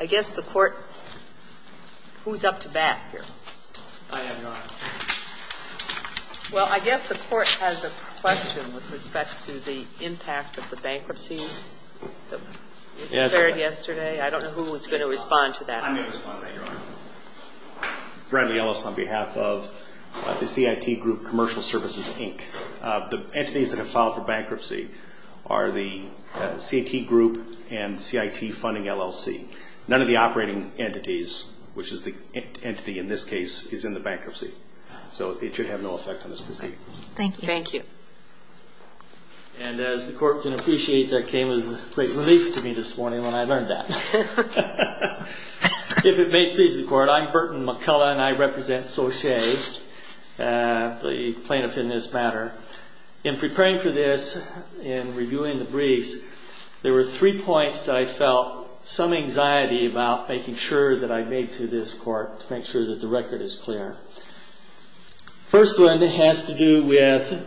I guess the court... Who's up to bat here? I am, Your Honor. Well, I guess the court has a question with respect to the impact of the bankruptcy that was declared yesterday. I don't know who was going to respond to that. I may respond to that, Your Honor. Bradley Ellis on behalf of the CIT Group Commercial Services, Inc. The entities that have filed for bankruptcy are the CIT Group Commercial Services, Inc. and the CIT Group Commercial Services, Inc. and CIT Funding, LLC. None of the operating entities, which is the entity in this case, is in the bankruptcy. So it should have no effect on this proceeding. Thank you. Thank you. And as the court can appreciate, that came as a great relief to me this morning when I learned that. If it may please the court, I'm Burton McCullough and I represent SOCHE, the plaintiff in this matter. In preparing for this, in reviewing the bankruptcy briefs, there were three points that I felt some anxiety about making sure that I've made to this court to make sure that the record is clear. The first one has to do with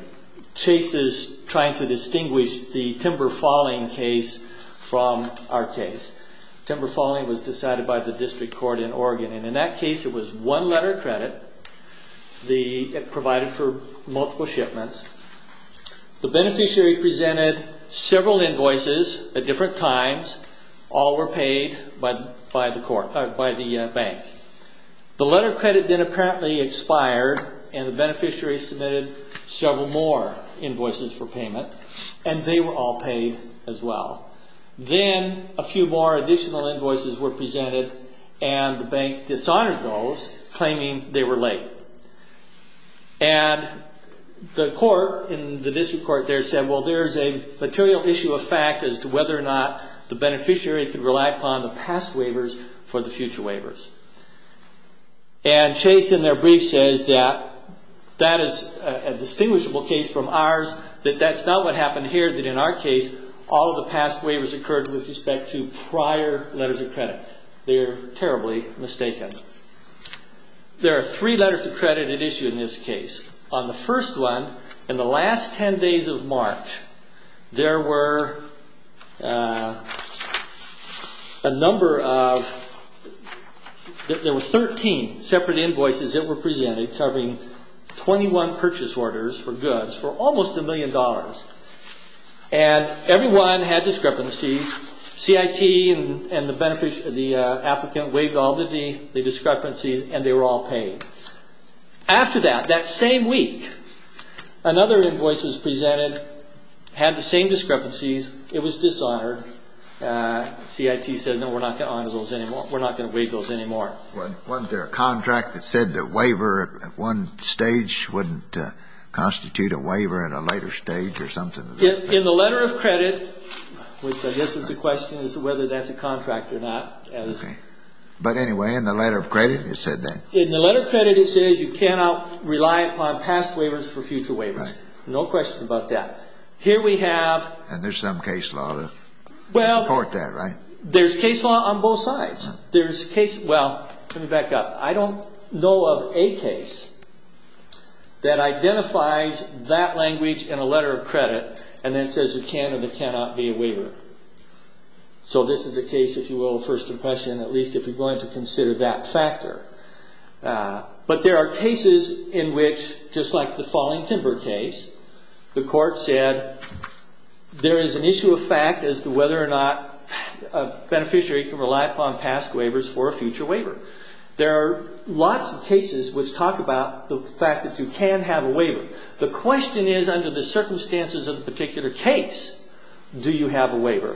cases trying to distinguish the timber falling case from our case. Timber falling was decided by the District Court in Oregon and in that case, it was one letter of invoices at different times, all were paid by the bank. The letter of credit then apparently expired and the beneficiary submitted several more invoices for payment and they were all paid as well. Then a few more additional invoices were presented and the bank dishonored those claiming they were late. And the court in the final issue of fact as to whether or not the beneficiary could rely upon the past waivers for the future waivers. And Chase in their brief says that that is a distinguishable case from ours, that that's not what happened here, that in our case, all of the past waivers occurred with respect to prior letters of credit. They are terribly mistaken. There are three letters of credit at issue in this case. On the first one, in the last ten days of March, there were three letters of credit. There were a number of, there were 13 separate invoices that were presented covering 21 purchase orders for goods for almost a million dollars. And everyone had discrepancies. CIT and the applicant waived all the discrepancies and they were all paid. After that, that same week, another invoice was presented, had the same discrepancies. It was dishonored. CIT said, no, we're not going to honor those anymore. We're not going to waive those anymore. Wasn't there a contract that said that waiver at one stage wouldn't constitute a waiver at a later stage or something? In the letter of credit, which I guess is the question, is whether that's a contract or not. But anyway, in the letter of credit, it said that? In the letter of credit, it says you cannot rely upon past waivers for future waivers. No question about that. Here we have And there's some case law to support that, right? There's case law on both sides. There's case, well, let me back up. I don't know of a case that identifies that language in a letter of credit and then says you can and cannot be a waiver. So this is a case, if you will, of first impression, at least if you're going to consider that factor. But there are cases in which, just like the There is an issue of fact as to whether or not a beneficiary can rely upon past waivers for a future waiver. There are lots of cases which talk about the fact that you can have a waiver. The question is, under the circumstances of the particular case, do you have a waiver?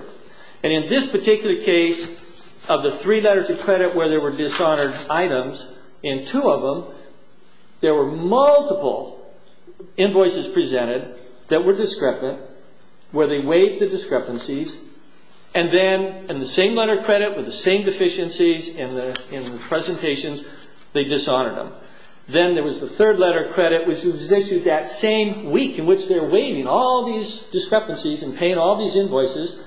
And in this particular case, of the three letters of credit where there were dishonored items, in two of them, there were multiple invoices presented that were discrepant, where they waived the discrepancies, and then in the same letter of credit with the same deficiencies in the presentations, they dishonored them. Then there was the third letter of credit which was issued that same week in which they're waiving all these discrepancies and paying all these invoices.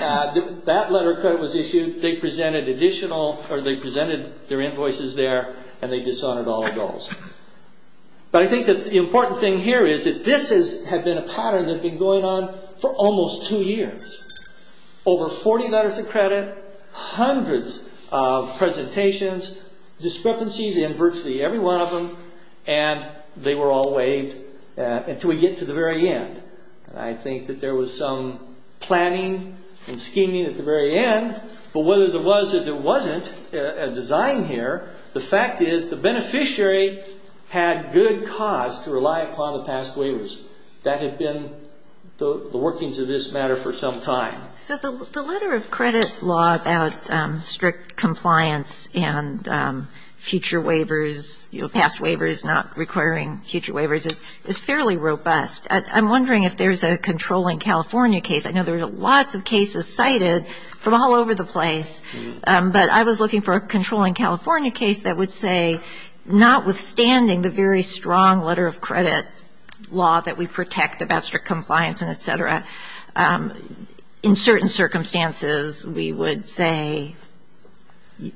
That letter of credit was issued, they presented additional, or they presented their invoices there, and they dishonored all the goals. But I think that the important thing here is that this has been a pattern that's been going on for almost two years. Over 40 letters of credit, hundreds of presentations, discrepancies in virtually every one of them, and they were all waived until we get to the very end. I think that there was some planning and scheming at the very end, but whether there was or there wasn't a design here, the fact is the beneficiary had good cause to rely upon the past waivers. That had been the workings of this matter for some time. So the letter of credit law about strict compliance and future waivers, past waivers not requiring future waivers, is fairly robust. I'm wondering if there's a controlling California case. I know there are lots of cases cited from all over the place, but I was looking for a controlling California case that would say, notwithstanding the very strong letter of credit law that we protect about strict compliance and et cetera, in certain circumstances we would say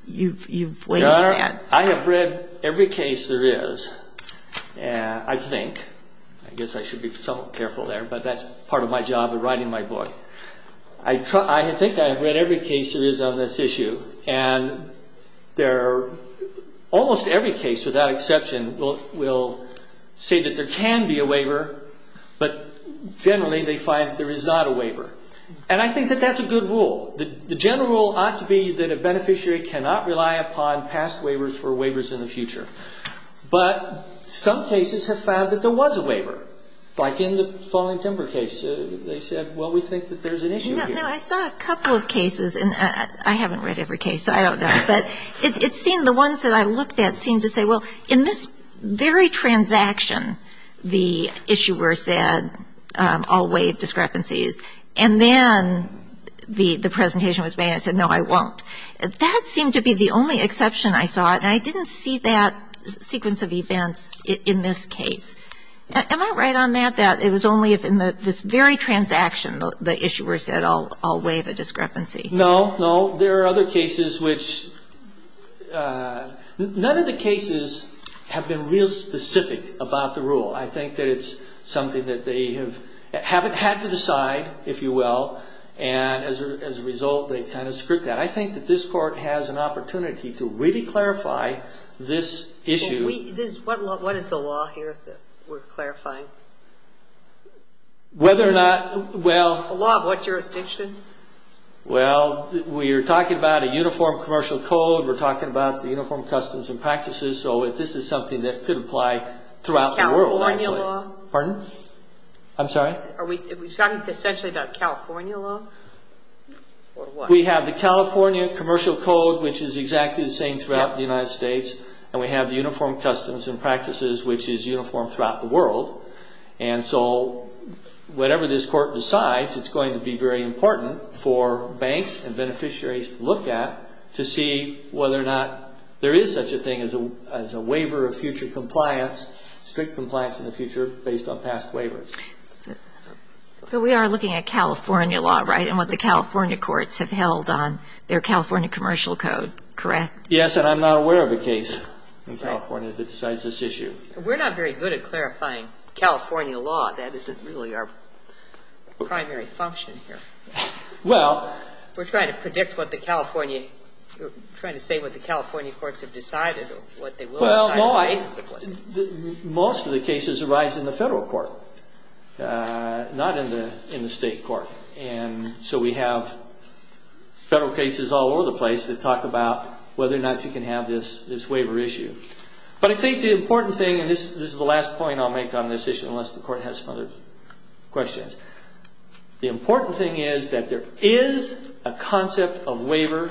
you've waived that. I have read every case there is, I think. I guess I should be somewhat careful there, but that's part of my job of writing my book. I think I have read every case there is on this issue, and almost every case without exception will say that there can be a waiver, but generally they find that there is not a waiver. I think that that's a good rule. The general rule ought to be that a beneficiary cannot rely upon past waivers for waivers in the future. But some cases have found that there was a waiver, like in the falling timber case. They said, well, we think that there's an issue here. No, I saw a couple of cases, and I haven't read every case, so I don't know. But it seemed the ones that I looked at seemed to say, well, in this very transaction, the issuer said I'll waive discrepancies. And then the presentation was made, and I said, no, I won't. That seemed to be the only exception I saw, and I didn't see that sequence of events in this case. Am I right on that, that it was only in this very transaction the issuer said I'll waive a discrepancy? No, no. There are other cases which none of the cases have been real specific about the rule. I think that it's something that they have had to decide, if you will, and as a result, they've kind of scripted that. I think that this Court has an opportunity to really clarify this issue. What is the law here that we're clarifying? Whether or not, well. The law of what jurisdiction? Well, we are talking about a uniform commercial code. We're talking about the uniform customs and practices. So if this is something that could apply throughout the world, actually. California law? Pardon? I'm sorry? Are we talking essentially about California law or what? We have the California commercial code, which is exactly the same throughout the United States, and we have the uniform customs and practices, which is uniform throughout the world. And so whatever this Court decides, it's going to be very important for banks and beneficiaries to look at to see whether or not there is such a thing as a waiver of future compliance, strict compliance in the future based on past waivers. But we are looking at California law, right, and what the California courts have held on their California commercial code, correct? Yes, and I'm not aware of a case in California that decides this issue. We're not very good at clarifying California law. That isn't really our primary function here. Well. We're trying to predict what the California, we're trying to say what the California courts have decided or what they will decide. Well, most of the cases arise in the federal court, not in the state court. And so we have federal cases all over the place that talk about whether or not you can have this waiver issue. But I think the important thing, and this is the last point I'll make on this issue unless the Court has some other questions. The important thing is that there is a concept of waiver,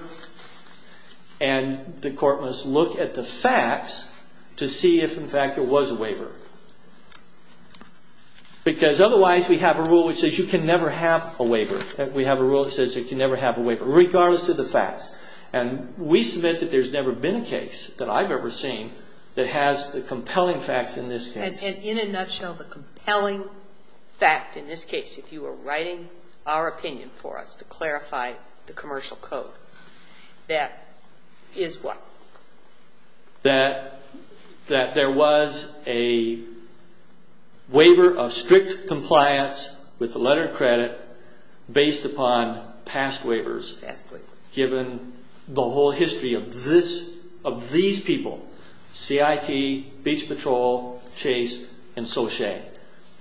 and the Court must look at the facts to see if, in fact, there was a waiver. Because otherwise we have a rule which says you can never have a waiver. We have a rule that says you can never have a waiver, regardless of the facts. And we submit that there's never been a case that I've ever seen that has the compelling facts in this case. And in a nutshell, the compelling fact in this case, if you were writing our opinion for us to clarify the commercial code, that is what? That there was a waiver of strict compliance with the letter of credit based upon past waivers. Past waivers. Given the whole history of this, of these people, CIT, Beach Patrol, Chase, and Sochei.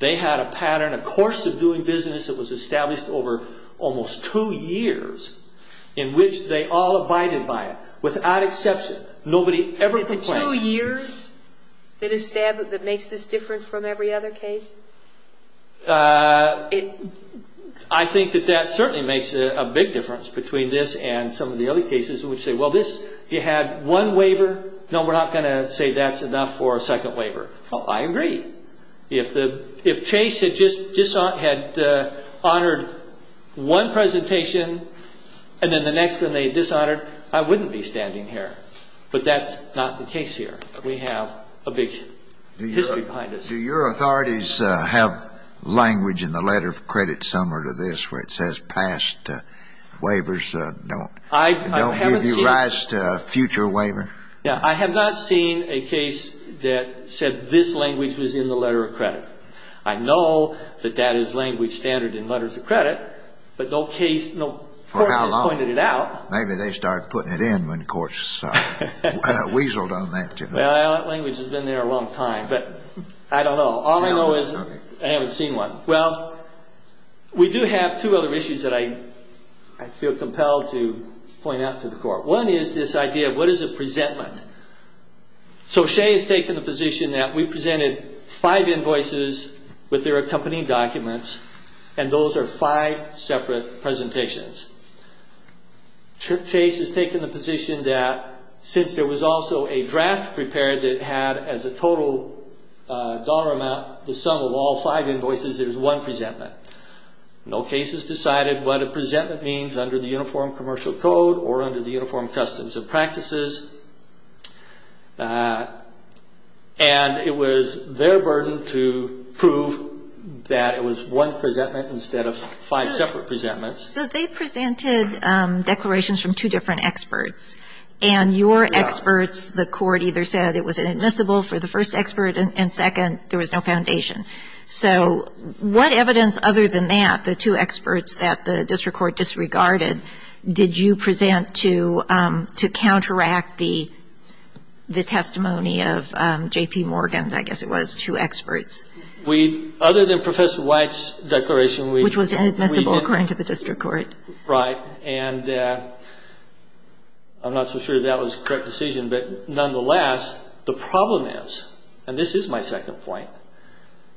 They had a pattern, a course of doing business that was established over almost two years in which they all abided by it without exception. Nobody ever complained. Is it the two years that makes this different from every other case? I think that that certainly makes a big difference between this and some of the other cases in which they say, well, this, you had one waiver. No, we're not going to say that's enough for a second waiver. Well, I agree. If Chase had just honored one presentation and then the next one they dishonored, I wouldn't be standing here. But that's not the case here. We have a big history behind us. Do your authorities have language in the letter of credit similar to this where it says past waivers don't give you rise to a future waiver? I have not seen a case that said this language was in the letter of credit. I know that that is language standard in letters of credit, but no court has pointed it out. Maybe they started putting it in when courts weaseled on that. Well, that language has been there a long time, but I don't know. All I know is I haven't seen one. Well, we do have two other issues that I feel compelled to point out to the court. One is this idea of what is a presentment. So Shea has taken the position that we presented five invoices with their accompanying documents, and those are five separate presentations. Chase has taken the position that since there was also a draft prepared that had as a total dollar amount the sum of all five invoices, it was one presentment. No case has decided what a presentment means under the Uniform Commercial Code or under the Uniform Customs and Practices. And it was their burden to prove that it was one presentment instead of five separate presentments. So they presented declarations from two different experts. And your experts, the court either said it was inadmissible for the first expert and, second, there was no foundation. So what evidence other than that, the two experts that the district court disregarded, did you present to counteract the testimony of J.P. Morgan's, I guess it was, two experts? We, other than Professor White's declaration, we Which was inadmissible according to the district court. Right. And I'm not so sure that was the correct decision. But, nonetheless, the problem is, and this is my second point,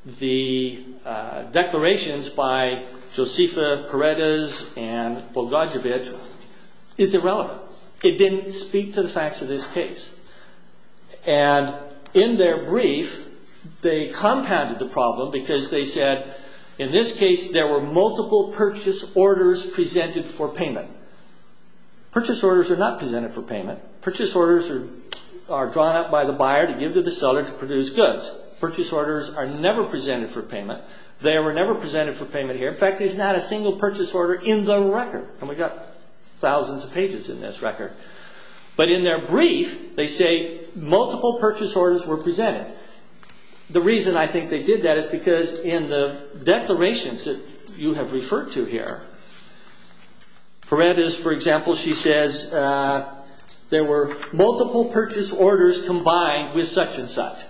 the declarations by Josefa Paredes and Bogdanovich is irrelevant. It didn't speak to the facts of this case. And, in their brief, they compounded the problem because they said, in this case, there were multiple purchase orders presented for payment. Purchase orders are not presented for payment. Purchase orders are drawn up by the buyer to give to the seller to produce goods. Purchase orders are never presented for payment. They were never presented for payment here. In fact, there's not a single purchase order in the record. And we've got thousands of pages in this record. But, in their brief, they say multiple purchase orders were presented. The reason I think they did that is because in the declarations that you have referred to here, Paredes, for example, she says, there were multiple purchase orders combined with such and such.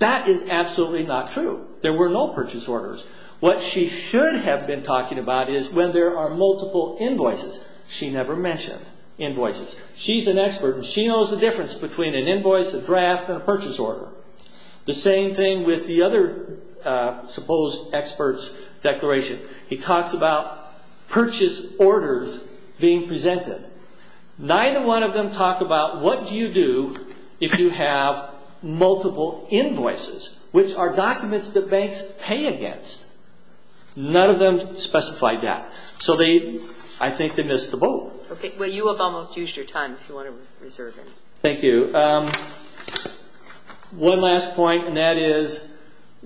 That is absolutely not true. There were no purchase orders. What she should have been talking about is when there are multiple invoices. She never mentioned invoices. She's an expert, and she knows the difference between an invoice, a draft, and a purchase order. The same thing with the other supposed expert's declaration. He talks about purchase orders being presented. Neither one of them talk about what do you do if you have multiple invoices, which are documents that banks pay against. None of them specify that. So, I think they missed the boat. Okay. Well, you have almost used your time if you want to reserve it. Thank you. One last point, and that is,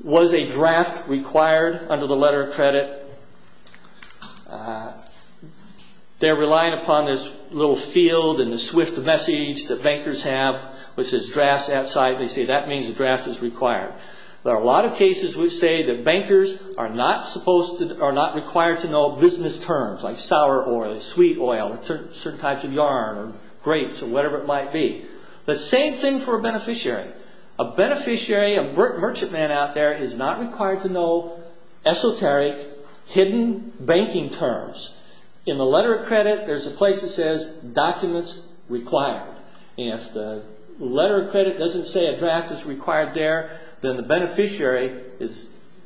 was a draft required under the letter of credit? They're relying upon this little field and the swift message that bankers have, which says drafts outside. They say that means a draft is required. There are a lot of cases which say that bankers are not required to know business terms, like sour oil, sweet oil, certain types of yarn, or grapes, or whatever it might be. The same thing for a beneficiary. A beneficiary, a merchant man out there, is not required to know esoteric, hidden banking terms. In the letter of credit, there's a place that says documents required. If the letter of credit doesn't say a draft is required there, then the beneficiary,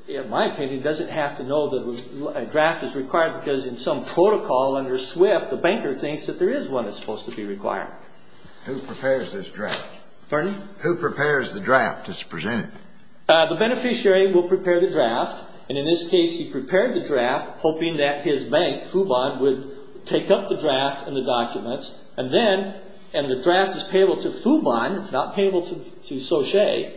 in my opinion, doesn't have to know that a draft is required, because in some protocol under swift, the banker thinks that there is one that's supposed to be required. Who prepares this draft? Pardon me? Who prepares the draft that's presented? The beneficiary will prepare the draft, and in this case, he prepared the draft, hoping that his bank, Fubon, would take up the draft and the documents, and then, and the draft is payable to Fubon, it's not payable to Sauchet,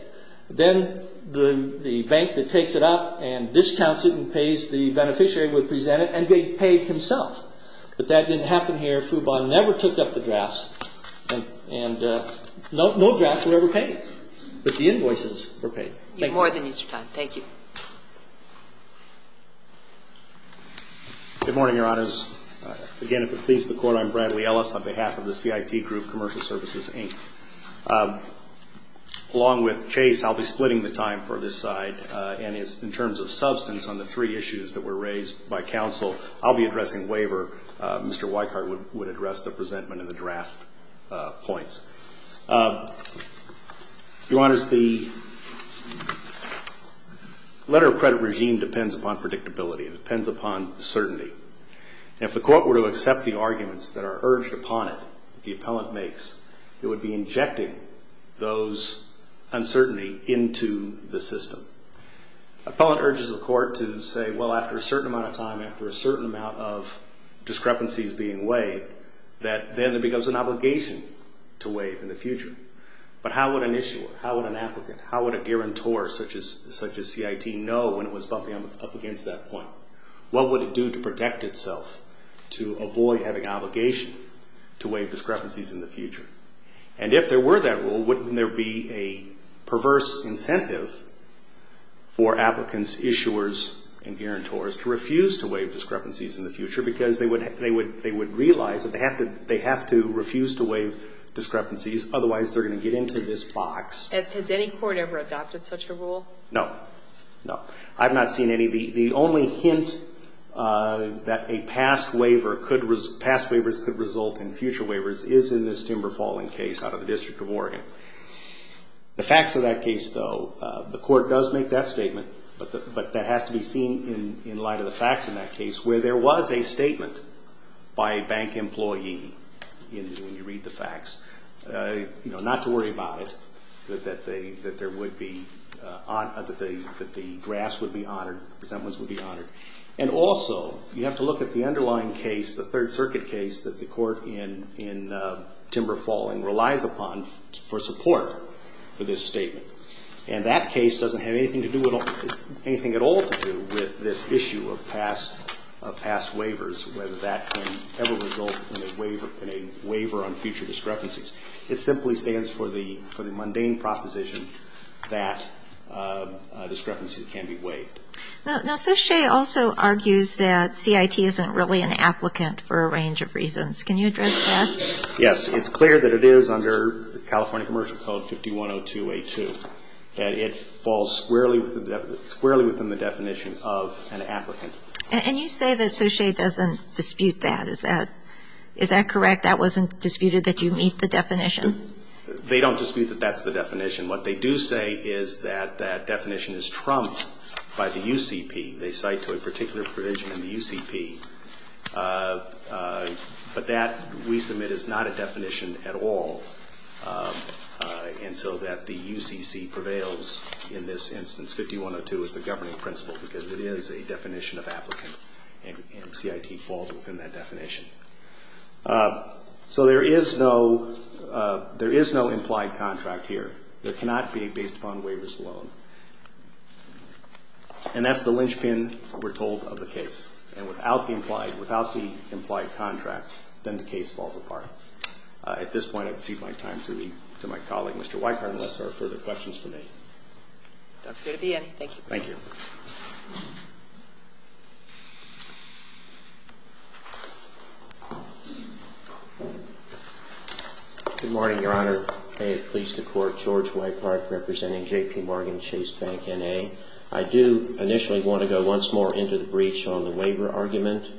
then the bank that takes it up and discounts it and pays the beneficiary would present it, and he'd pay it himself. But that didn't happen here. Fubon never took up the draft, and no draft was ever paid, but the invoices were paid. Thank you. You have more than your time. Thank you. Good morning, Your Honors. Again, if it pleases the Court, I'm Bradley Ellis on behalf of the CIT Group Commercial Services, Inc. Along with Chase, I'll be splitting the time for this side, and in terms of substance on the three issues that were raised by counsel, I'll be addressing waiver. Mr. Weichart would address the presentment and the draft points. Your Honors, the letter of credit regime depends upon predictability. It depends upon certainty. And if the Court were to accept the arguments that are urged upon it, the appellant makes, it would be injecting those uncertainty into the system. Appellant urges the Court to say, well, after a certain amount of time, after a certain amount of discrepancies being waived, that then there becomes an obligation to waive in the future. But how would an issuer, how would an applicant, how would a guarantor such as CIT know when it was bumping up against that point? What would it do to protect itself to avoid having an obligation to waive discrepancies in the future? And if there were that rule, wouldn't there be a perverse incentive for applicants, issuers, and guarantors to refuse to waive discrepancies in the future because they would realize that they have to refuse to waive discrepancies, otherwise they're going to get into this box. Has any Court ever adopted such a rule? No. No. I've not seen any. The only hint that past waivers could result in future waivers is in this timber falling case out of the District of Oregon. The facts of that case, though, the Court does make that statement, but that has to be seen in light of the facts in that case where there was a statement by a bank employee, when you read the facts, not to worry about it, that the drafts would be honored, the present ones would be honored. And also, you have to look at the underlying case, the Third Circuit case, that the Court in timber falling relies upon for support for this statement. And that case doesn't have anything at all to do with this issue of past waivers, whether that can ever result in a waiver on future discrepancies. It simply stands for the mundane proposition that a discrepancy can be waived. Now, Suchet also argues that CIT isn't really an applicant for a range of reasons. Can you address that? Yes. It's clear that it is under California Commercial Code 5102A2 that it falls squarely within the definition of an applicant. And you say that Suchet doesn't dispute that. Is that correct? That wasn't disputed that you meet the definition? They don't dispute that that's the definition. What they do say is that that definition is trumped by the UCP. They cite to a particular provision in the UCP, but that, we submit, is not a definition at all until that the UCC prevails in this instance. 5102 is the governing principle because it is a definition of applicant and CIT falls within that definition. So there is no implied contract here. It cannot be based upon waivers alone. And that's the linchpin, we're told, of the case. And without the implied contract, then the case falls apart. At this point, I've ceded my time to my colleague, Mr. Weikart, unless there are further questions for me. Dr. Gabiani, thank you. Thank you. Good morning, Your Honor. May it please the Court, George Weikart representing JPMorgan Chase Bank, N.A. I do initially want to go once more into the breach on the waiver argument.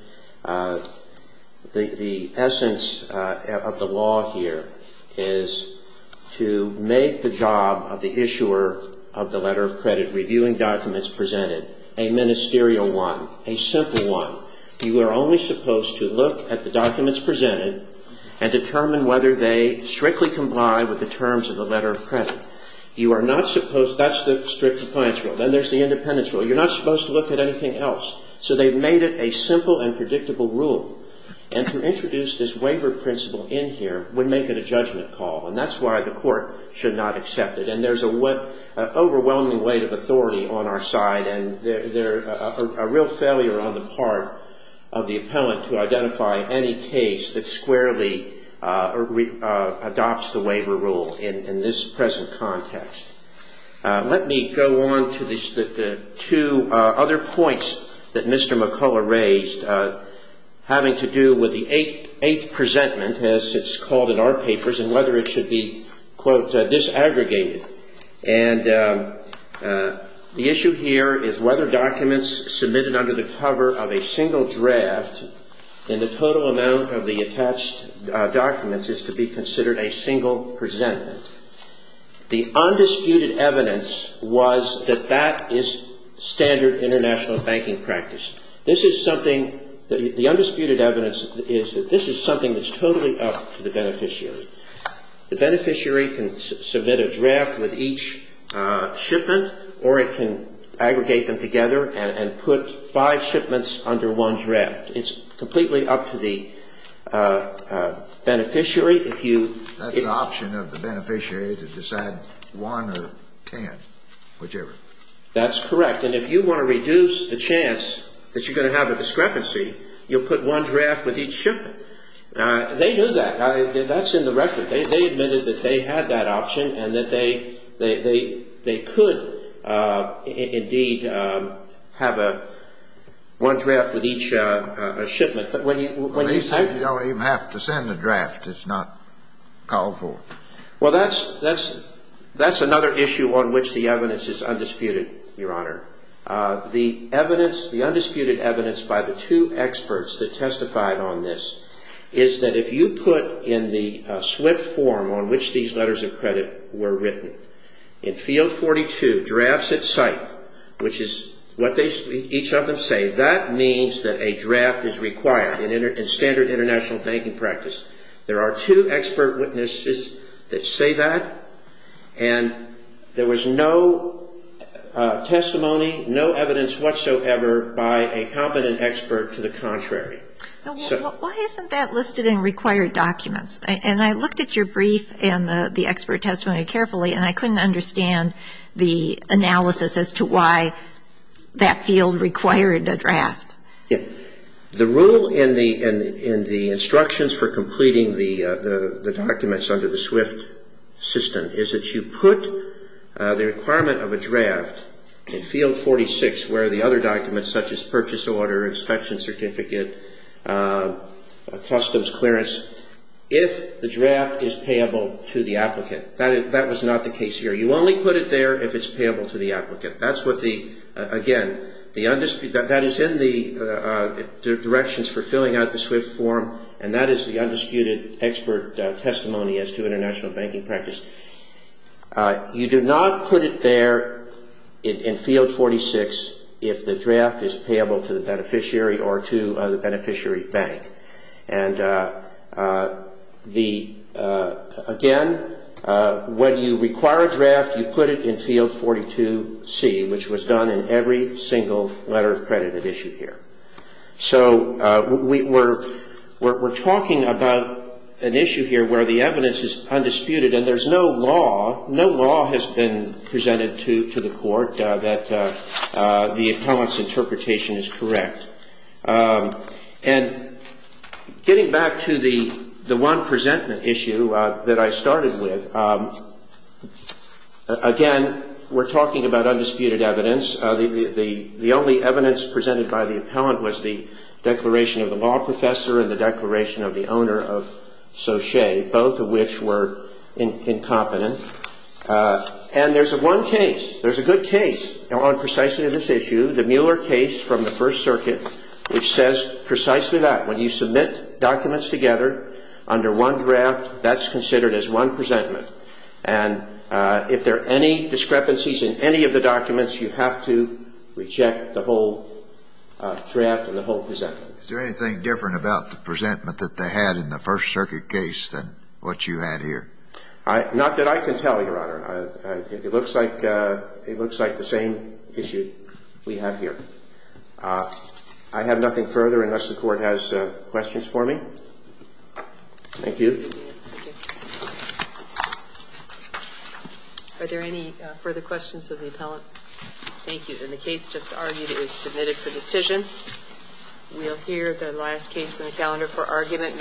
The essence of the law here is to make the job of the issuer of the letter of credit reviewing documents presented a ministerial one, a simple one. You are only supposed to look at the documents presented and determine whether they strictly comply with the terms of the letter of credit. You are not supposed, that's the strict compliance rule. Then there's the independence rule. You're not supposed to look at anything else. So they've made it a simple and predictable rule. And to introduce this waiver principle in here would make it a judgment call, and that's why the Court should not accept it. And there's an overwhelming weight of authority on our side, and a real failure on the part of the appellant to identify any case that squarely adopts the waiver rule in this present context. Let me go on to the two other points that Mr. McCullough raised, having to do with the eighth presentment, as it's called in our papers, and whether it should be, quote, disaggregated. And the issue here is whether documents submitted under the cover of a single draft in the total amount of the attached documents is to be considered a single presentment. The undisputed evidence was that that is standard international banking practice. This is something, the undisputed evidence is that this is something that's totally up to the beneficiary. The beneficiary can submit a draft with each shipment, or it can aggregate them together and put five shipments under one draft. It's completely up to the beneficiary if you That's the option of the beneficiary to decide one or ten, whichever. That's correct. And if you want to reduce the chance that you're going to have a discrepancy, you'll put one draft with each shipment. They knew that. That's in the record. They admitted that they had that option and that they could indeed have one draft with each shipment. You don't even have to send a draft. It's not called for. Well, that's another issue on which the evidence is undisputed, Your Honor. The undisputed evidence by the two experts that testified on this is that if you put in the swift form on which these letters of credit were written, in field 42, drafts at site, which is what each of them say, that means that a draft is required in standard international banking practice. There are two expert witnesses that say that, and there was no testimony, no evidence whatsoever by a competent expert to the contrary. Why isn't that listed in required documents? And I looked at your brief and the expert testimony carefully, and I couldn't understand the analysis as to why that field required a draft. Yes. The rule in the instructions for completing the documents under the swift system is that you put the requirement of a draft in field 46 where the other documents, such as purchase order, inspection certificate, customs clearance, if the draft is payable to the applicant. That was not the case here. You only put it there if it's payable to the applicant. Again, that is in the directions for filling out the swift form, and that is the undisputed expert testimony as to international banking practice. You do not put it there in field 46 if the draft is payable to the beneficiary or to the beneficiary bank. And again, when you require a draft, you put it in field 42C, which was done in every single letter of credit at issue here. So we're talking about an issue here where the evidence is undisputed and there's no law, no law has been presented to the Court that the appellant's interpretation is correct. And getting back to the one presentment issue that I started with, again, we're talking about undisputed evidence. The only evidence presented by the appellant was the declaration of the law professor and the declaration of the owner of Sauchet, both of which were incompetent. And there's one case, there's a good case on precisely this issue, the Mueller case from the First Circuit, which says precisely that. When you submit documents together under one draft, that's considered as one presentment. And if there are any discrepancies in any of the documents, you have to reject the whole draft and the whole presentment. Is there anything different about the presentment that they had in the First Circuit case than what you had here? Not that I can tell, Your Honor. It looks like the same issue we have here. I have nothing further unless the Court has questions for me. Thank you. Are there any further questions of the appellant? Thank you. And the case just argued is submitted for decision. We'll hear the last case in the calendar for argument.